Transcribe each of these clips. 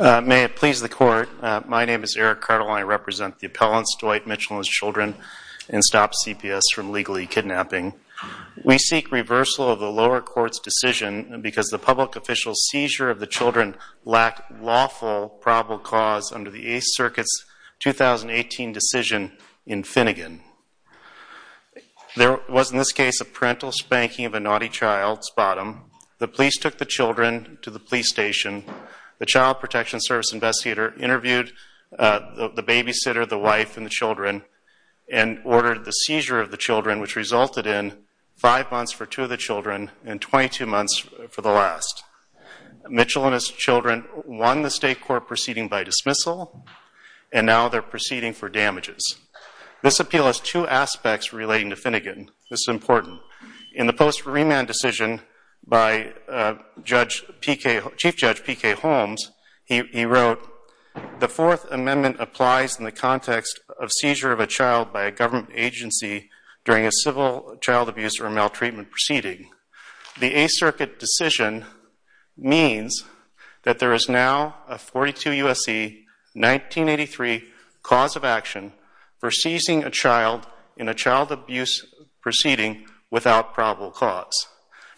May it please the court, my name is Eric Cartel and I represent the appellants, Dwight Mitchell and his children, and Stop CPS from Legally Kidnapping. We seek reversal of the lower court's decision because the public official's seizure of the children lacked lawful probable cause under the Eighth Circuit's 2018 decision in Finnegan. There was in this case a parental spanking of a naughty child's bottom. The police took the children to the police station. The Child Protection Service investigator interviewed the babysitter, the wife, and the children and ordered the seizure of the children which resulted in five months for two of the children and 22 months for the last. Mitchell and his children won the state court proceeding by dismissal and now they're proceeding for damages. This appeal has two aspects relating to Finnegan. This is important. In the post remand decision by Chief Judge P.K. Holmes, he wrote, the Fourth Amendment applies in the context of seizure of a child by a government agency during a civil child abuse or maltreatment proceeding. The Eighth Circuit decision means that there is now a 42 U.S.C. 1983 cause of action for seizing a child in a child abuse proceeding without probable cause.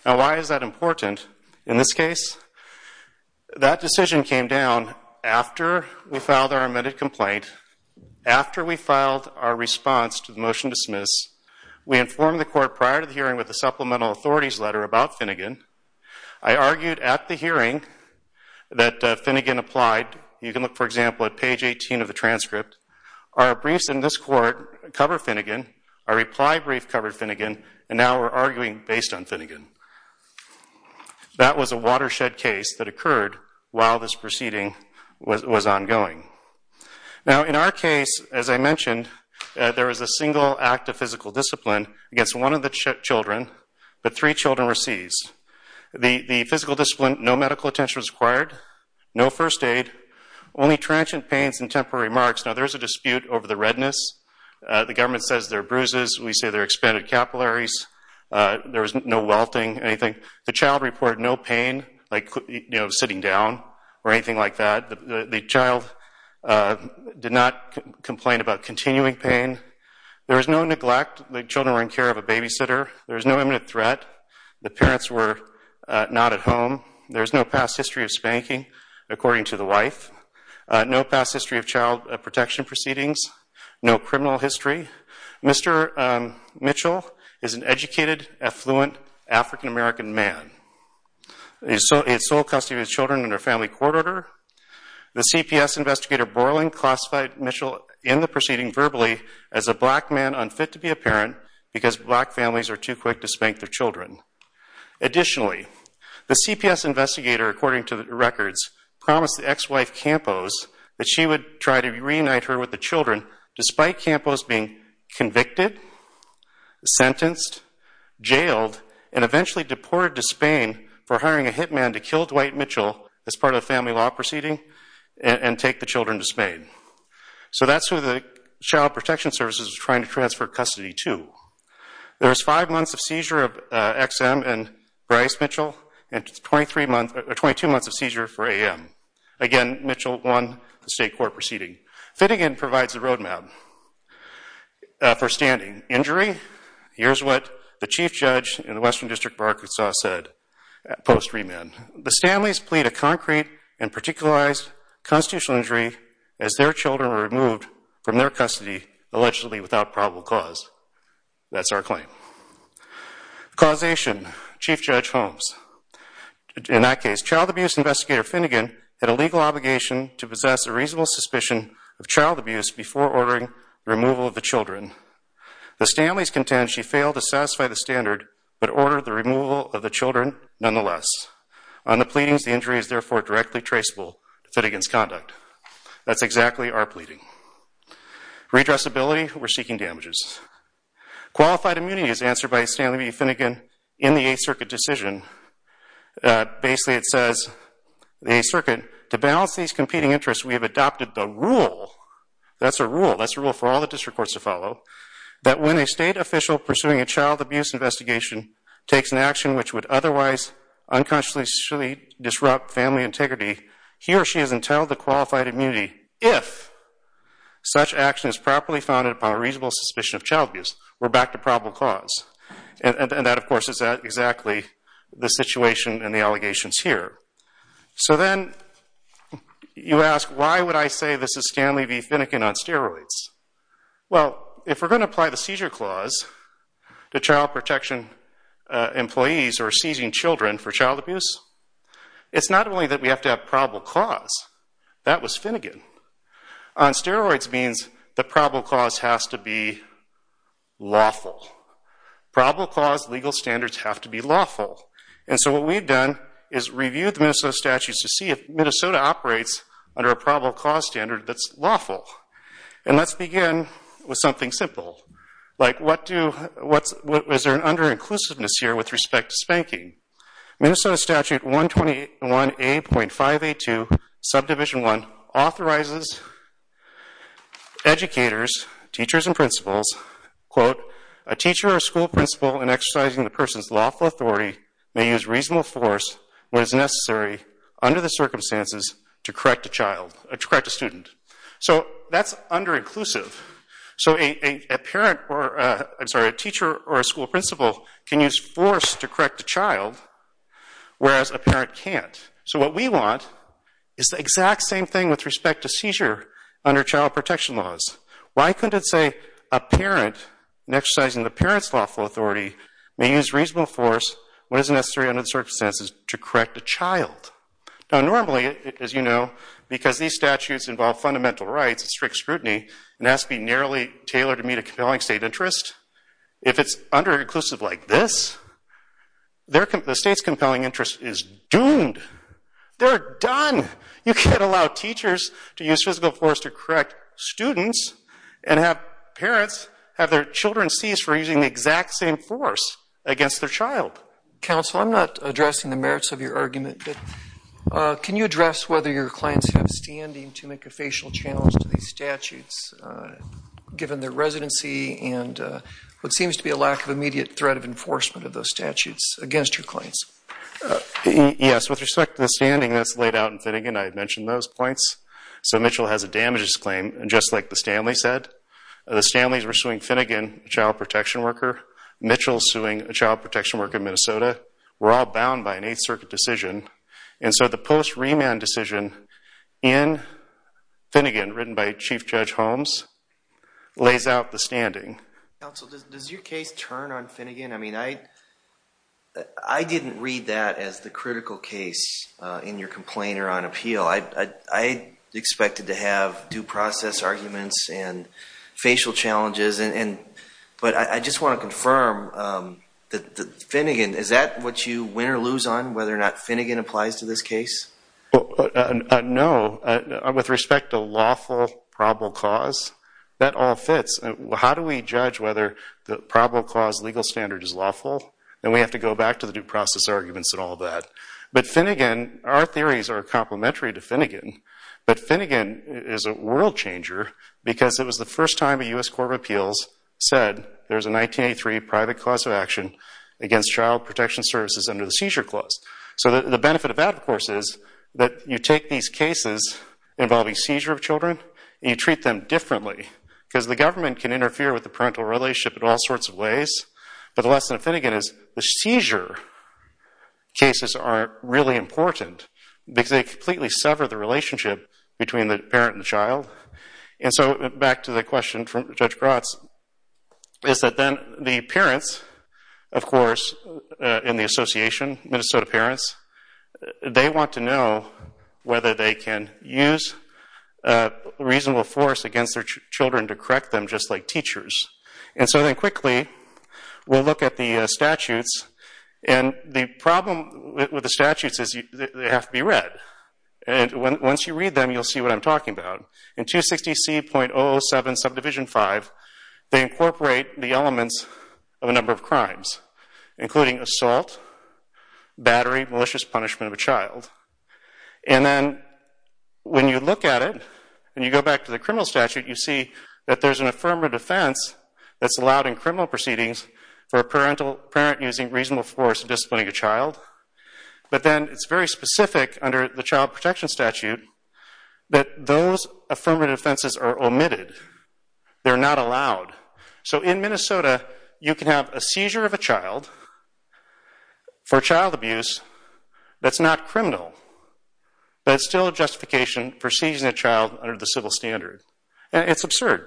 Now why is that important in this case? That decision came down after we filed our amended complaint, after we filed our response to the motion to dismiss. We informed the court prior to the hearing with the supplemental authorities letter about Finnegan. I argued at the hearing that Finnegan applied. You can look for example at page 18 of the transcript. Our briefs in this court cover Finnegan. Our reply brief covered Finnegan and now we're arguing based on Finnegan. That was a watershed case that occurred while this proceeding was ongoing. Now in our case, as I mentioned, there was a single act of physical discipline against one of the children, but three children were seized. The physical discipline, no transient pains and temporary marks. Now there's a dispute over the redness. The government says they're bruises. We say they're expanded capillaries. There was no welting, anything. The child reported no pain like, you know, sitting down or anything like that. The child did not complain about continuing pain. There was no neglect. The children were in care of a babysitter. There was no imminent threat. The parents were not at home. There's no past history of spanking according to the wife. No past history of child protection proceedings. No criminal history. Mr. Mitchell is an educated, affluent, African-American man. He's in sole custody of his children under family court order. The CPS investigator Borland classified Mitchell in the proceeding verbally as a black man unfit to be a parent because black families are too quick to spank their promised the ex-wife Campos that she would try to reunite her with the children, despite Campos being convicted, sentenced, jailed, and eventually deported to Spain for hiring a hitman to kill Dwight Mitchell as part of the family law proceeding and take the children to Spain. So that's who the Child Protection Services was trying to transfer custody to. There was five months of seizure of XM and Bryce Mitchell and 22 months of XM. Again, Mitchell won the state court proceeding. Finnegan provides the roadmap for standing. Injury? Here's what the chief judge in the Western District of Arkansas said post remand. The Stanley's plead a concrete and particularized constitutional injury as their children were removed from their custody allegedly without probable cause. That's our claim. Causation. Chief Judge Holmes. In that case, child abuse investigator Finnegan had a legal obligation to possess a reasonable suspicion of child abuse before ordering removal of the children. The Stanley's contend she failed to satisfy the standard but ordered the removal of the children nonetheless. On the pleadings, the injury is therefore directly traceable to Finnegan's conduct. That's exactly our pleading. Redressability? We're seeking damages. Qualified immunity is answered by Stanley B. Finnegan in the 8th Circuit decision. Basically, it says the 8th Circuit, to balance these competing interests, we have adopted the rule. That's a rule. That's a rule for all the district courts to follow. That when a state official pursuing a child abuse investigation takes an action which would otherwise unconsciously disrupt family integrity, he or she is entitled to qualified immunity if such action is properly founded upon a probable cause. And that, of course, is exactly the situation and the allegations here. So then, you ask, why would I say this is Stanley B. Finnegan on steroids? Well, if we're going to apply the seizure clause to child protection employees or seizing children for child abuse, it's not only that we have to have probable cause. That was Finnegan. On steroids means the probable cause has to be lawful. Probable cause legal standards have to be lawful. And so what we've done is reviewed the Minnesota statutes to see if Minnesota operates under a probable cause standard that's lawful. And let's begin with something simple. Like, what do, what's, is there an under-inclusiveness here with respect to spanking? Minnesota Statute 121A.582, subdivision 1, authorizes educators, teachers, and principals, quote, a teacher or school principal in exercising the person's lawful authority may use reasonable force when it's necessary under the circumstances to correct a child, to correct a student. So that's under-inclusive. So a parent or, I'm sorry, a teacher or a school principal can use force to correct a child, whereas a parent exercising the parent's lawful authority may use reasonable force when it's necessary under the circumstances to correct a child. Now normally, as you know, because these statutes involve fundamental rights, strict scrutiny, and has to be narrowly tailored to meet a compelling state interest, if it's under-inclusive like this, the state's compelling interest is doomed. They're done! You can't allow teachers to use reasonable force to correct students and have parents have their children seized for using the exact same force against their child. Counsel, I'm not addressing the merits of your argument, but can you address whether your clients have standing to make a facial challenge to these statutes given their residency and what seems to be a lack of immediate threat of enforcement of those statutes against your clients? Yes, with respect to the standing that's laid out in Finnegan, I had mentioned those points. So Mitchell has a damages claim, and just like the Stanley said, the Stanley's were suing Finnegan, a child protection worker. Mitchell's suing a child protection worker in Minnesota. We're all bound by an Eighth Circuit decision, and so the post-remand decision in Finnegan, written by Chief Judge Holmes, lays out the standing. Counsel, does your case turn on Finnegan? I mean, I didn't read that as the critical case in your complainer on appeal. I expected to have due process arguments and facial challenges, but I just want to confirm that Finnegan, is that what you win or lose on, whether or not Finnegan applies to this case? No, with respect to lawful probable cause, that all fits. How do we judge whether the probable cause legal standard is lawful? And we have to go back to the due process arguments and all of that. But Finnegan, our theories are complementary to Finnegan, but Finnegan is a world changer because it was the first time a U.S. Court of Appeals said there's a 1983 private cause of action against child protection services under the seizure clause. So the benefit of that, of course, is that you take these cases involving seizure of the parental relationship in all sorts of ways, but the lesson of Finnegan is the seizure cases aren't really important because they completely sever the relationship between the parent and the child. And so, back to the question from Judge Grotz, is that then the parents, of course, in the association, Minnesota parents, they want to know whether they can use a reasonable force against their teachers. And so then, quickly, we'll look at the statutes. And the problem with the statutes is they have to be read. And once you read them, you'll see what I'm talking about. In 260C.007, subdivision 5, they incorporate the elements of a number of crimes, including assault, battery, malicious punishment of a child. And then, when you look at it, and you go back to the criminal statute, you see that there's an affirmative defense that's allowed in criminal proceedings for a parent using reasonable force and disciplining a child. But then, it's very specific under the Child Protection Statute that those affirmative defenses are omitted. They're not allowed. So in Minnesota, you can have a seizure of a child for child abuse that's not criminal, but it's still a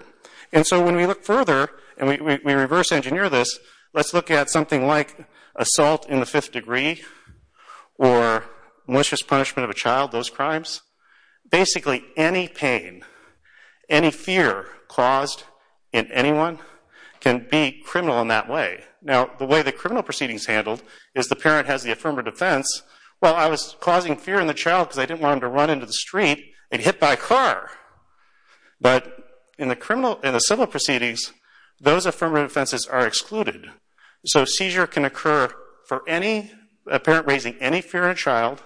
And so when we look further, and we reverse engineer this, let's look at something like assault in the fifth degree or malicious punishment of a child, those crimes. Basically, any pain, any fear caused in anyone can be criminal in that way. Now, the way the criminal proceedings handled is the parent has the affirmative defense, well, I was causing fear in the child because I didn't want him to run into the street and get hit by a car. But in the civil proceedings, those affirmative offenses are excluded. So seizure can occur for a parent raising any fear in a child,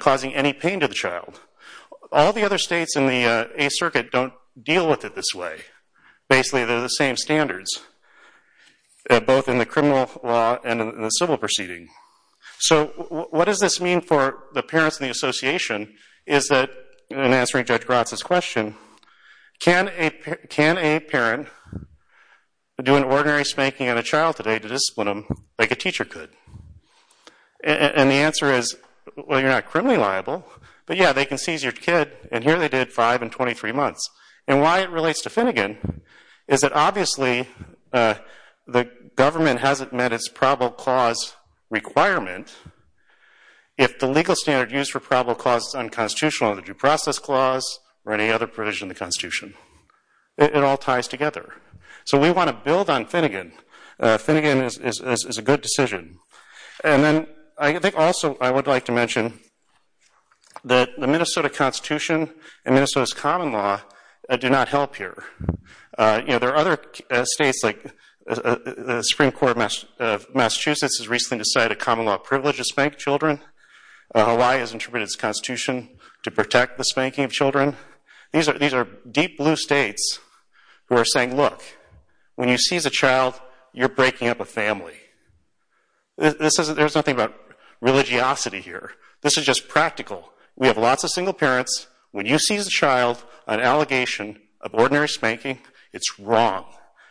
causing any pain to the child. All the other states in the Eighth Circuit don't deal with it this way. Basically, they're the same standards, both in the criminal law and in the civil proceeding. So what does this mean for the parents and the association is that, in answering Judge Gratz's question, can a parent do an ordinary spanking on a child today to discipline them like a teacher could? And the answer is, well, you're not criminally liable, but yeah, they can seize your kid, and here they did five in 23 months. And why it relates to Finnegan is that obviously the government hasn't met its probable clause requirement. If the legal standard used for probable clause is unconstitutional, the due process clause or any other provision in the Constitution, it all ties together. So we want to build on Finnegan. Finnegan is a good decision. And then I think also I would like to mention that the Minnesota Constitution and Minnesota's common law do not help here. You know, there are other states like the Supreme Court of Massachusetts has recently decided a common law privilege to spank children. Hawaii has interpreted its Constitution to protect the spanking of children. These are deep blue states who are saying, look, when you seize a child, you're breaking up a family. There's nothing about religiosity here. This is just practical. We have lots of single parents. When you seize a child on allegation of ordinary spanking, it's wrong,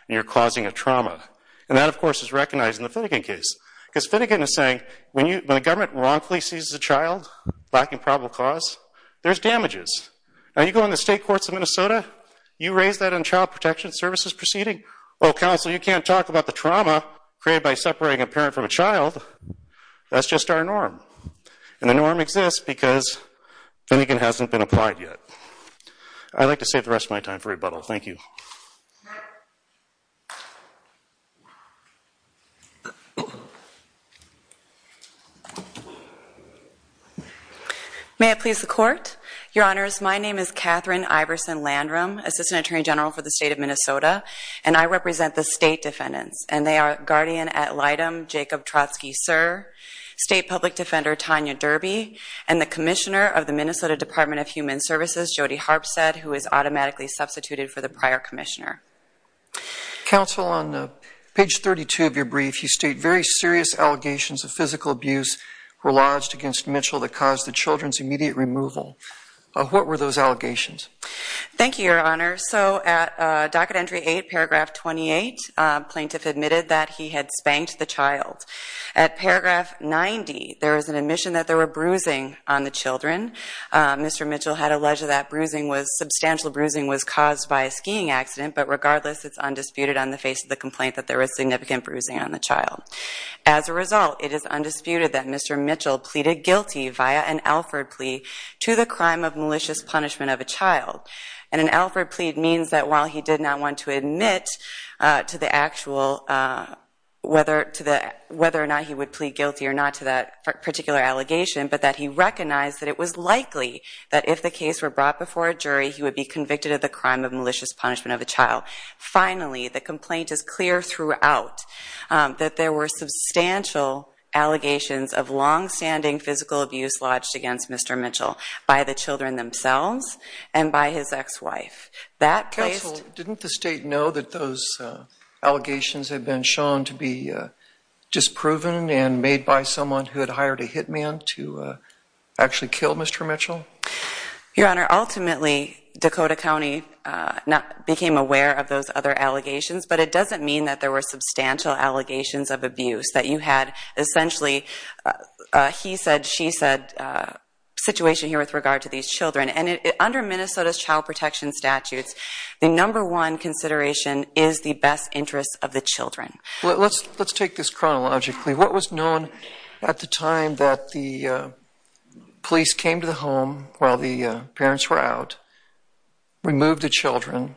and you're causing a trauma. And that, of course, is recognized in the Finnegan case. Because Finnegan is saying, when the government wrongfully seizes a child lacking probable clause, there's damages. Now you go in the state courts of Minnesota, you raise that on child protection services proceeding. Well, counsel, you can't talk about the trauma created by separating a parent from a child. That's just our norm. And the norm exists because Finnegan hasn't been applied yet. I'd like to save the rest of my time for rebuttal. Thank you. May it please the Court. Your Honors, my name is Katherine Iverson Landrum, Assistant Attorney General for the state of Minnesota, and I represent the state public defender, Tanya Derby, and the Commissioner of the Minnesota Department of Human Services, Jody Harpstead, who is automatically substituted for the prior Commissioner. Counsel, on page 32 of your brief, you state, very serious allegations of physical abuse were lodged against Mitchell that caused the children's immediate removal. What were those allegations? Thank you, Your Honor. So at docket entry 8, paragraph 28, plaintiff admitted that he had spanked the child. At paragraph 90, there is an admission that there were bruising on the children. Mr. Mitchell had alleged that substantial bruising was caused by a skiing accident, but regardless, it's undisputed on the face of the complaint that there was significant bruising on the child. As a result, it is undisputed that Mr. Mitchell pleaded guilty via an Alford plea to the crime of malicious punishment of a child. And an Alford plea means that while he did not want to admit to the actual, whether to the, whether or not he would plead guilty or not to that particular allegation, but that he recognized that it was likely that if the case were brought before a jury, he would be convicted of the crime of malicious punishment of a child. Finally, the complaint is clear throughout that there were substantial allegations of long-standing physical abuse lodged against Mr. Mitchell by the That placed... Counsel, didn't the state know that those allegations had been shown to be disproven and made by someone who had hired a hitman to actually kill Mr. Mitchell? Your Honor, ultimately, Dakota County became aware of those other allegations, but it doesn't mean that there were substantial allegations of abuse, that you had essentially a he-said-she-said situation here with regard to these children. And under Minnesota's child protection statutes, the number one consideration is the best interests of the children. Well, let's let's take this chronologically. What was known at the time that the police came to the home while the parents were out, removed the children,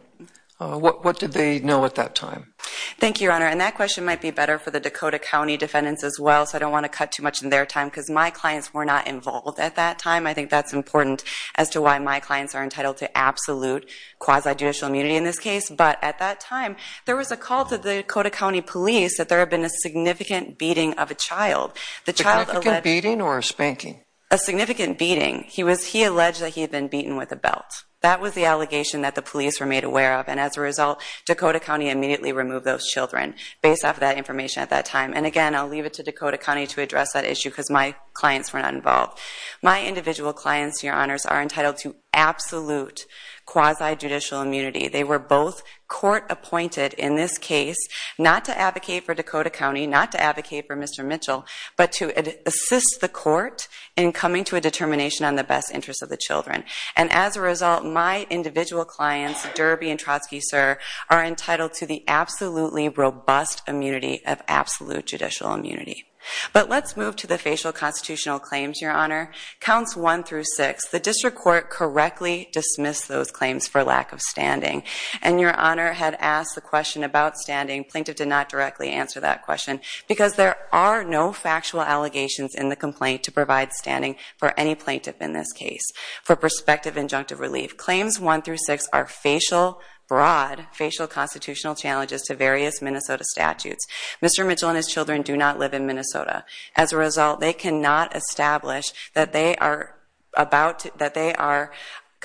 what did they know at that time? Thank you, Your Honor, and that question might be better for the Dakota County defendants as well, so I don't want to cut too much in their time because my clients were not involved at that time. I think that's important as to why my clients are entitled to absolute quasi-judicial immunity in this case, but at that time, there was a call to the Dakota County Police that there had been a significant beating of a child. A significant beating or a spanking? A significant beating. He alleged that he had been beaten with a belt. That was the allegation that the police were made aware of, and as a result, Dakota County immediately removed those children based off that information at that time. And again, I'll leave it to Dakota County to address that issue because my clients were not involved. My individual clients, Your Honors, are entitled to absolute quasi-judicial immunity. They were both court-appointed in this case, not to advocate for Dakota County, not to advocate for Mr. Mitchell, but to assist the court in coming to a determination on the best interests of the children. And as a result, my individual clients, Derby and Trotsky, sir, are entitled to the absolutely robust immunity of absolute judicial immunity. But let's move to the facial constitutional claims, Your Honor. Counts 1 through 6, the District Court correctly dismissed those claims for lack of standing, and Your Honor had asked the question about standing. Plaintiff did not directly answer that question because there are no factual allegations in the complaint to provide standing for any plaintiff in this case. For prospective injunctive relief, claims 1 through 6 are facial, broad, facial constitutional challenges to various Minnesota statutes. Mr. Mitchell and his children do not live in Minnesota. As a result, they cannot establish that they are about, that they are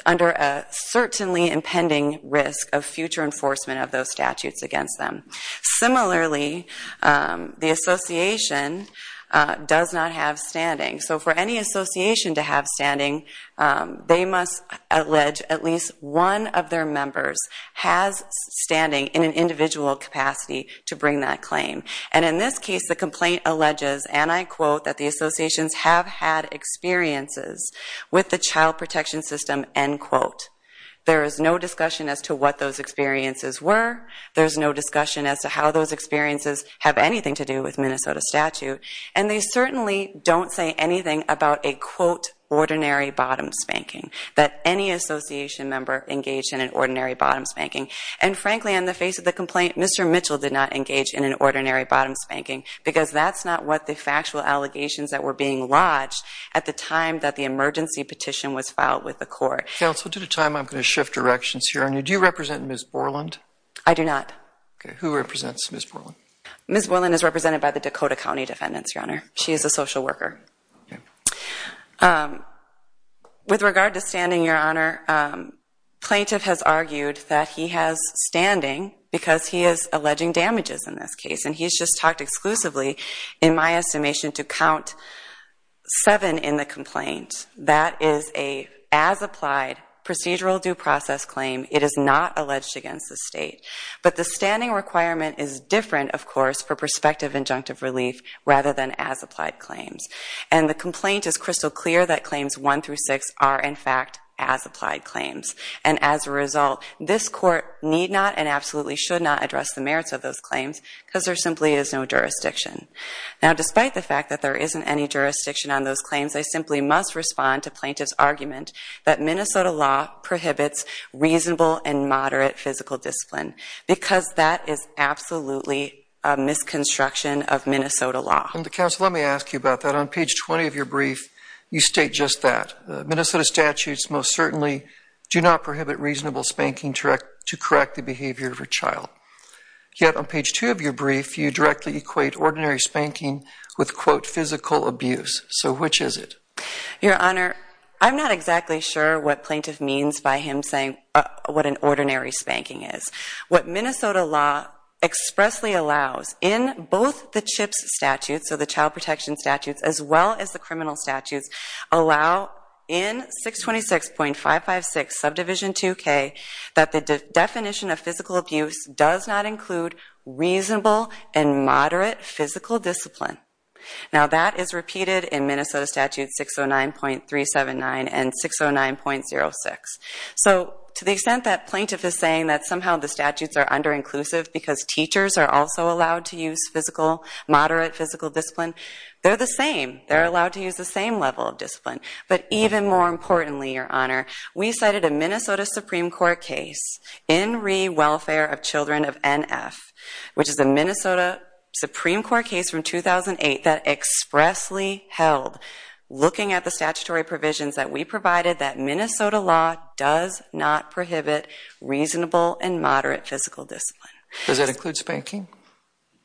under a certainly impending risk of future enforcement of those statutes against them. Similarly, the association does not have standing. So for any of their members has standing in an individual capacity to bring that claim. And in this case, the complaint alleges, and I quote, that the associations have had experiences with the child protection system, end quote. There is no discussion as to what those experiences were. There's no discussion as to how those experiences have anything to do with Minnesota statute. And they certainly don't say anything about a, quote, ordinary bottom spanking, that any association member engaged in an ordinary bottom spanking. And frankly, in the face of the complaint, Mr. Mitchell did not engage in an ordinary bottom spanking because that's not what the factual allegations that were being lodged at the time that the emergency petition was filed with the court. Counsel, due to time, I'm going to shift directions here. Do you represent Ms. Borland? I do not. Okay, who represents Ms. Borland? Ms. Borland is represented by the Dakota County Defendants, Your Honor. She is a social worker. With regard to standing, Your Honor, plaintiff has argued that he has standing because he is alleging damages in this case. And he's just talked exclusively, in my estimation, to count seven in the complaint. That is a, as applied, procedural due process claim. It is not alleged against the state. But the standing requirement is different, of course, for prospective injunctive relief rather than as applied claims. And the complaint is crystal clear that they are, in fact, as applied claims. And as a result, this court need not and absolutely should not address the merits of those claims because there simply is no jurisdiction. Now, despite the fact that there isn't any jurisdiction on those claims, I simply must respond to plaintiff's argument that Minnesota law prohibits reasonable and moderate physical discipline because that is absolutely a misconstruction of Minnesota law. Counsel, let me ask you about that. On page 20 of your brief, you state just that. Minnesota statutes most certainly do not prohibit reasonable spanking to correct the behavior of a child. Yet, on page 2 of your brief, you directly equate ordinary spanking with, quote, physical abuse. So which is it? Your Honor, I'm not exactly sure what plaintiff means by him saying what an ordinary spanking is. What Minnesota law expressly allows in both the CHIPS statute, so the Child Protection statutes, as well as the criminal statutes, allow in 626.556 subdivision 2K that the definition of physical abuse does not include reasonable and moderate physical discipline. Now, that is repeated in Minnesota statutes 609.379 and 609.06. So, to the extent that plaintiff is saying that somehow the statutes are under-inclusive because teachers are also allowed to use moderate physical discipline, they're the same. They're allowed to use the same level of discipline. But even more importantly, Your Honor, we cited a Minnesota Supreme Court case, In Re. Welfare of Children of NF, which is a Minnesota Supreme Court case from 2008 that expressly held, looking at the statutory provisions that we provided, that Minnesota law does not prohibit reasonable and moderate physical discipline. Does that include spanking?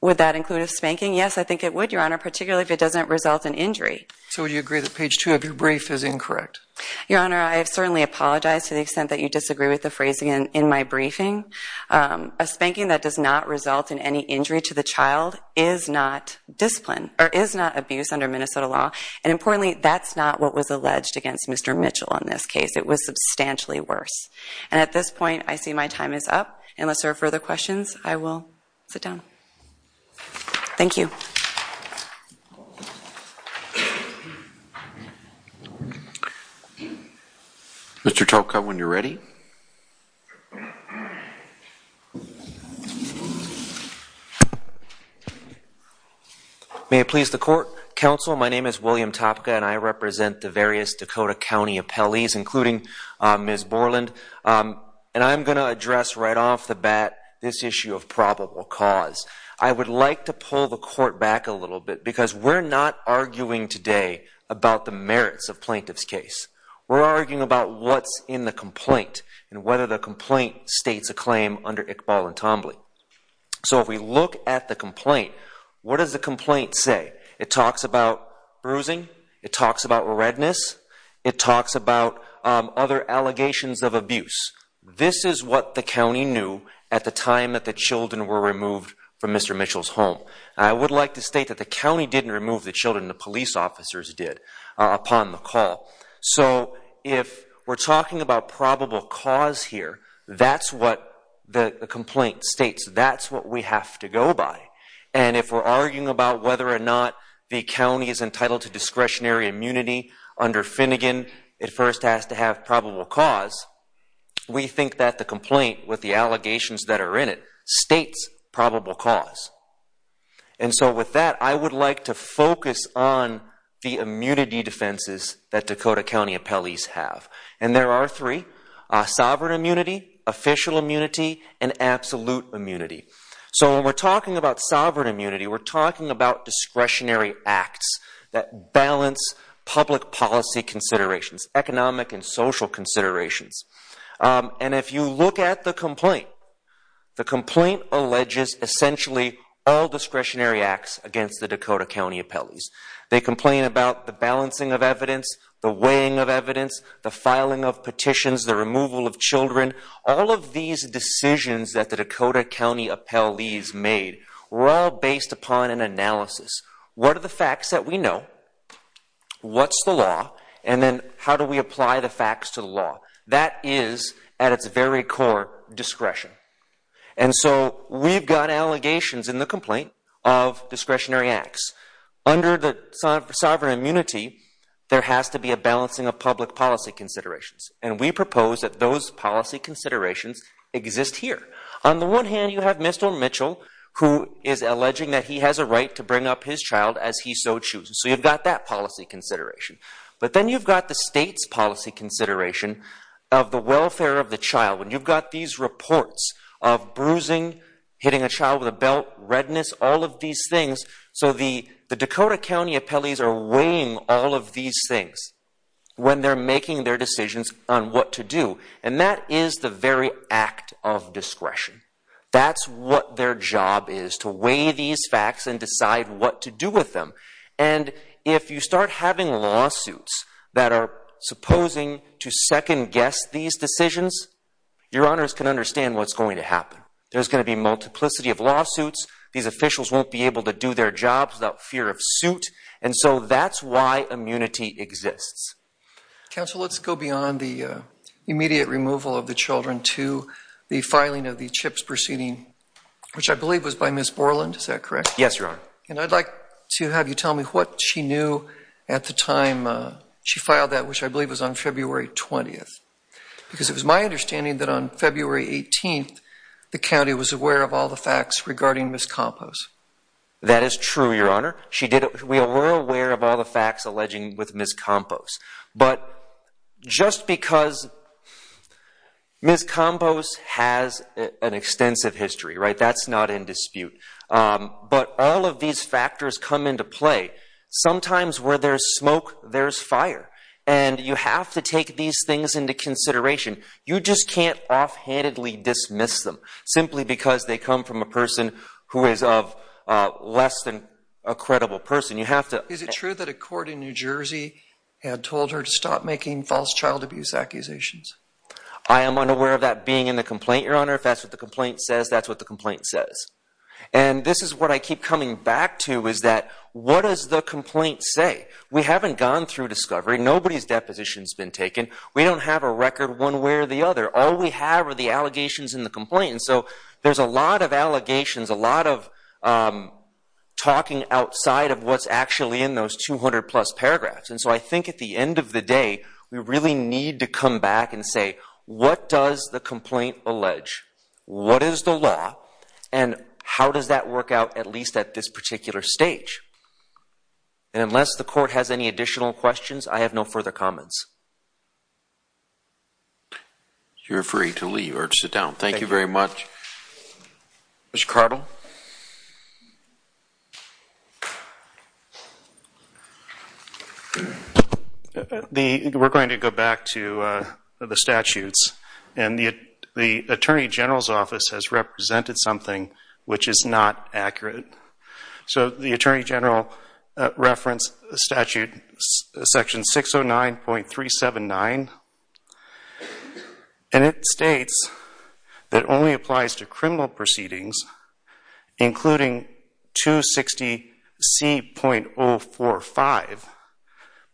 Would that include a spanking? Yes, I think it would, Your Honor, particularly if it doesn't result in injury. So, would you agree that page 2 of your brief is incorrect? Your Honor, I have certainly apologized to the extent that you disagree with the phrasing in my briefing. A spanking that does not result in any injury to the child is not discipline or is not abuse under Minnesota law. And importantly, that's not what was alleged against Mr. Mitchell in this case. It was substantially worse. And this point, I see my time is up. Unless there are further questions, I will sit down. Thank you. Mr. Topka, when you're ready. May it please the Court. Counsel, my name is William Topka and I represent the and I'm going to address right off the bat this issue of probable cause. I would like to pull the Court back a little bit because we're not arguing today about the merits of plaintiff's case. We're arguing about what's in the complaint and whether the complaint states a claim under Iqbal and Tambly. So, if we look at the complaint, what does the complaint say? It talks about bruising. It talks about redness. It talks about other allegations of abuse. This is what the county knew at the time that the children were removed from Mr. Mitchell's home. I would like to state that the county didn't remove the children. The police officers did upon the call. So, if we're talking about probable cause here, that's what the complaint states. That's what we have to go by. And if we're arguing about whether or not the county is entitled to discretionary immunity under Finnegan, it first has to have probable cause. We think that the complaint with the allegations that are in it states probable cause. And so with that, I would like to focus on the immunity defenses that Dakota County appellees have. And there are three. Sovereign immunity, official immunity, and absolute immunity. So, when we're talking about sovereign immunity, we're talking about discretionary acts that balance public policy considerations, economic and social considerations. And if you look at the complaint, the complaint alleges essentially all discretionary acts against the Dakota County appellees. They complain about the balancing of evidence, the weighing of evidence, the filing of petitions, the removal of children. All of these decisions that the Dakota County appellees made were all based upon an analysis. What are the facts that we know? What's the law? And then how do we apply the facts to the law? That is, at its very core, discretion. And so we've got allegations in the complaint of discretionary acts. Under the sovereign immunity, there has to be a balancing of public policy considerations. And we propose that those policy considerations exist here. On the one hand, you have Mr. Mitchell, who is alleging that he has a right to bring up his child as he so chooses. So you've got that policy consideration. But then you've got the state's policy consideration of the welfare of the child. When you've got these reports of bruising, hitting a child with a belt, redness, all of these things. So the Dakota County appellees are weighing all of these things when they're making their decisions on what to do. And that is the very act of discretion. That's what their job is, to weigh these facts and decide what to do with them. And if you start having lawsuits that are supposing to second guess these decisions, your honors can understand what's going to happen. There's going to be multiplicity of lawsuits. These officials won't be able to do their jobs without fear of suit. And so that's why immunity exists. Counsel, let's go beyond the immediate removal of the children to the filing of the CHIPS proceeding, which I believe was by Ms. Borland, is that correct? Yes, your honor. And I'd like to have you tell me what she knew at the time she filed that, which I believe was on February 20th. Because it was my understanding that on February 18th, the county was aware of all the facts regarding Ms. Campos. That is true, your honor. We were aware of all the facts. That's an extensive history, right? That's not in dispute. But all of these factors come into play. Sometimes where there's smoke, there's fire. And you have to take these things into consideration. You just can't offhandedly dismiss them simply because they come from a person who is of less than a credible person. Is it true that a court in New Jersey had told her to stop making false child abuse accusations? I am unaware of that being in the complaint, your honor. If that's what the complaint says, that's what the complaint says. And this is what I keep coming back to, is that what does the complaint say? We haven't gone through discovery. Nobody's deposition's been taken. We don't have a record one way or the other. All we have are the allegations in the complaint. So there's a lot of allegations, a lot of talking outside of what's actually in those 200 plus paragraphs. And so I think at the end of the day, we really need to come back and say, what does the complaint allege? What is the law? And how does that work out, at least at this particular stage? And unless the court has any additional questions, I have no further comments. You're free to leave or the statutes. And the Attorney General's office has represented something which is not accurate. So the Attorney General referenced the statute section 609.379 and it states that only applies to criminal proceedings, including 260C.045,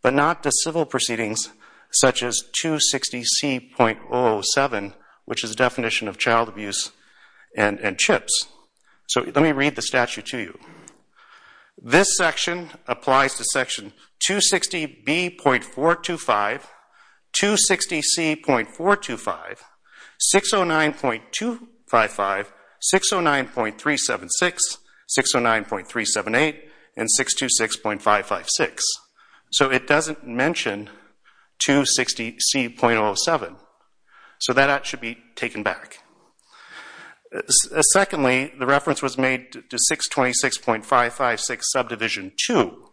but not to civil proceedings such as 260C.007, which is a definition of child abuse and and CHIPS. So let me read the statute to you. This section applies to section 260B.425, 260C.425, 609.255, 609.376, 609.378, and 609.376. So it doesn't mention 260C.007. So that should be taken back. Secondly, the reference was made to 626.556, subdivision 2.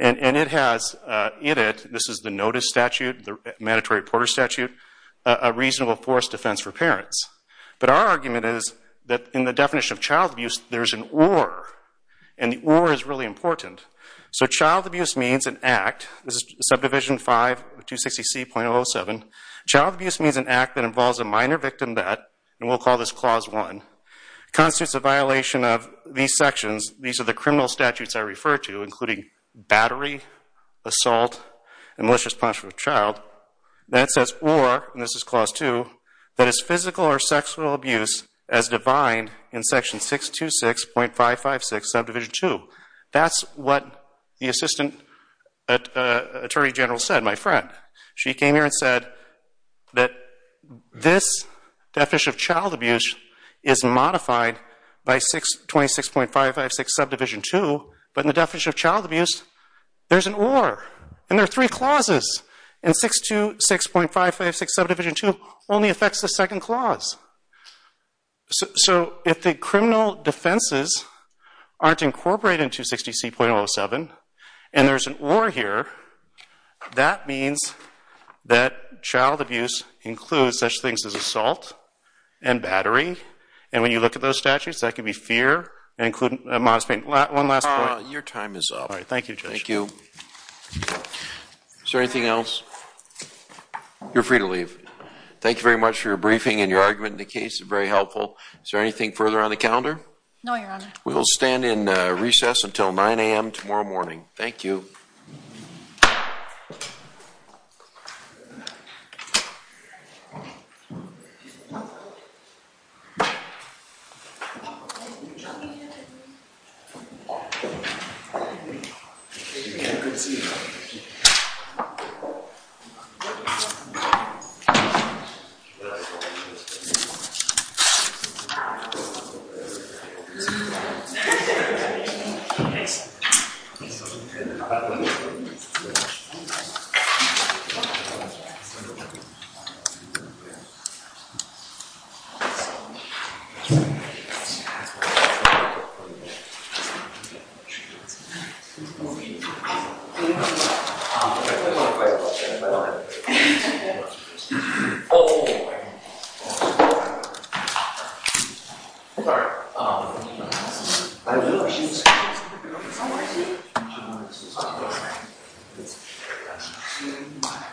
And it has in it, this is the Notice Statute, the Mandatory Porter Statute, a reasonable force defense for parents. But our argument is that in the definition of child abuse, there's an or is really important. So child abuse means an act. This is subdivision 5, 260C.007. Child abuse means an act that involves a minor victim that, and we'll call this Clause 1, constitutes a violation of these sections. These are the criminal statutes I refer to, including battery, assault, and malicious punishment of a child. Then it says or, and this is Clause 2, that is physical or sexual abuse as defined in Section 626.556, subdivision 2. That's what the Assistant Attorney General said, my friend. She came here and said that this definition of child abuse is modified by 626.556, subdivision 2, but in the definition of child abuse, there's an or, and there are three clauses. And 626.556, subdivision 2 only affects the second clause. So if the criminal defenses aren't incorporated in 260C.007, and there's an or here, that means that child abuse includes such things as assault and battery. And when you look at those statutes, that could be fear, including a modest pain. One last point. Your time is up. All right, thank you, Judge. Thank you. Is there anything else? You're free to leave. Thank you very much for your briefing and your argument in the case. It was very helpful. Is there anything further on the calendar? No, Your Honor. We will stand in recess until 9 a.m. tomorrow morning. Thank you. Thank you, Your Honor. Oh, oh, oh. Sorry. Oh. I didn't know if she was here. Someone is here. I don't know if this is on. All right. It's a shame. It's a shame.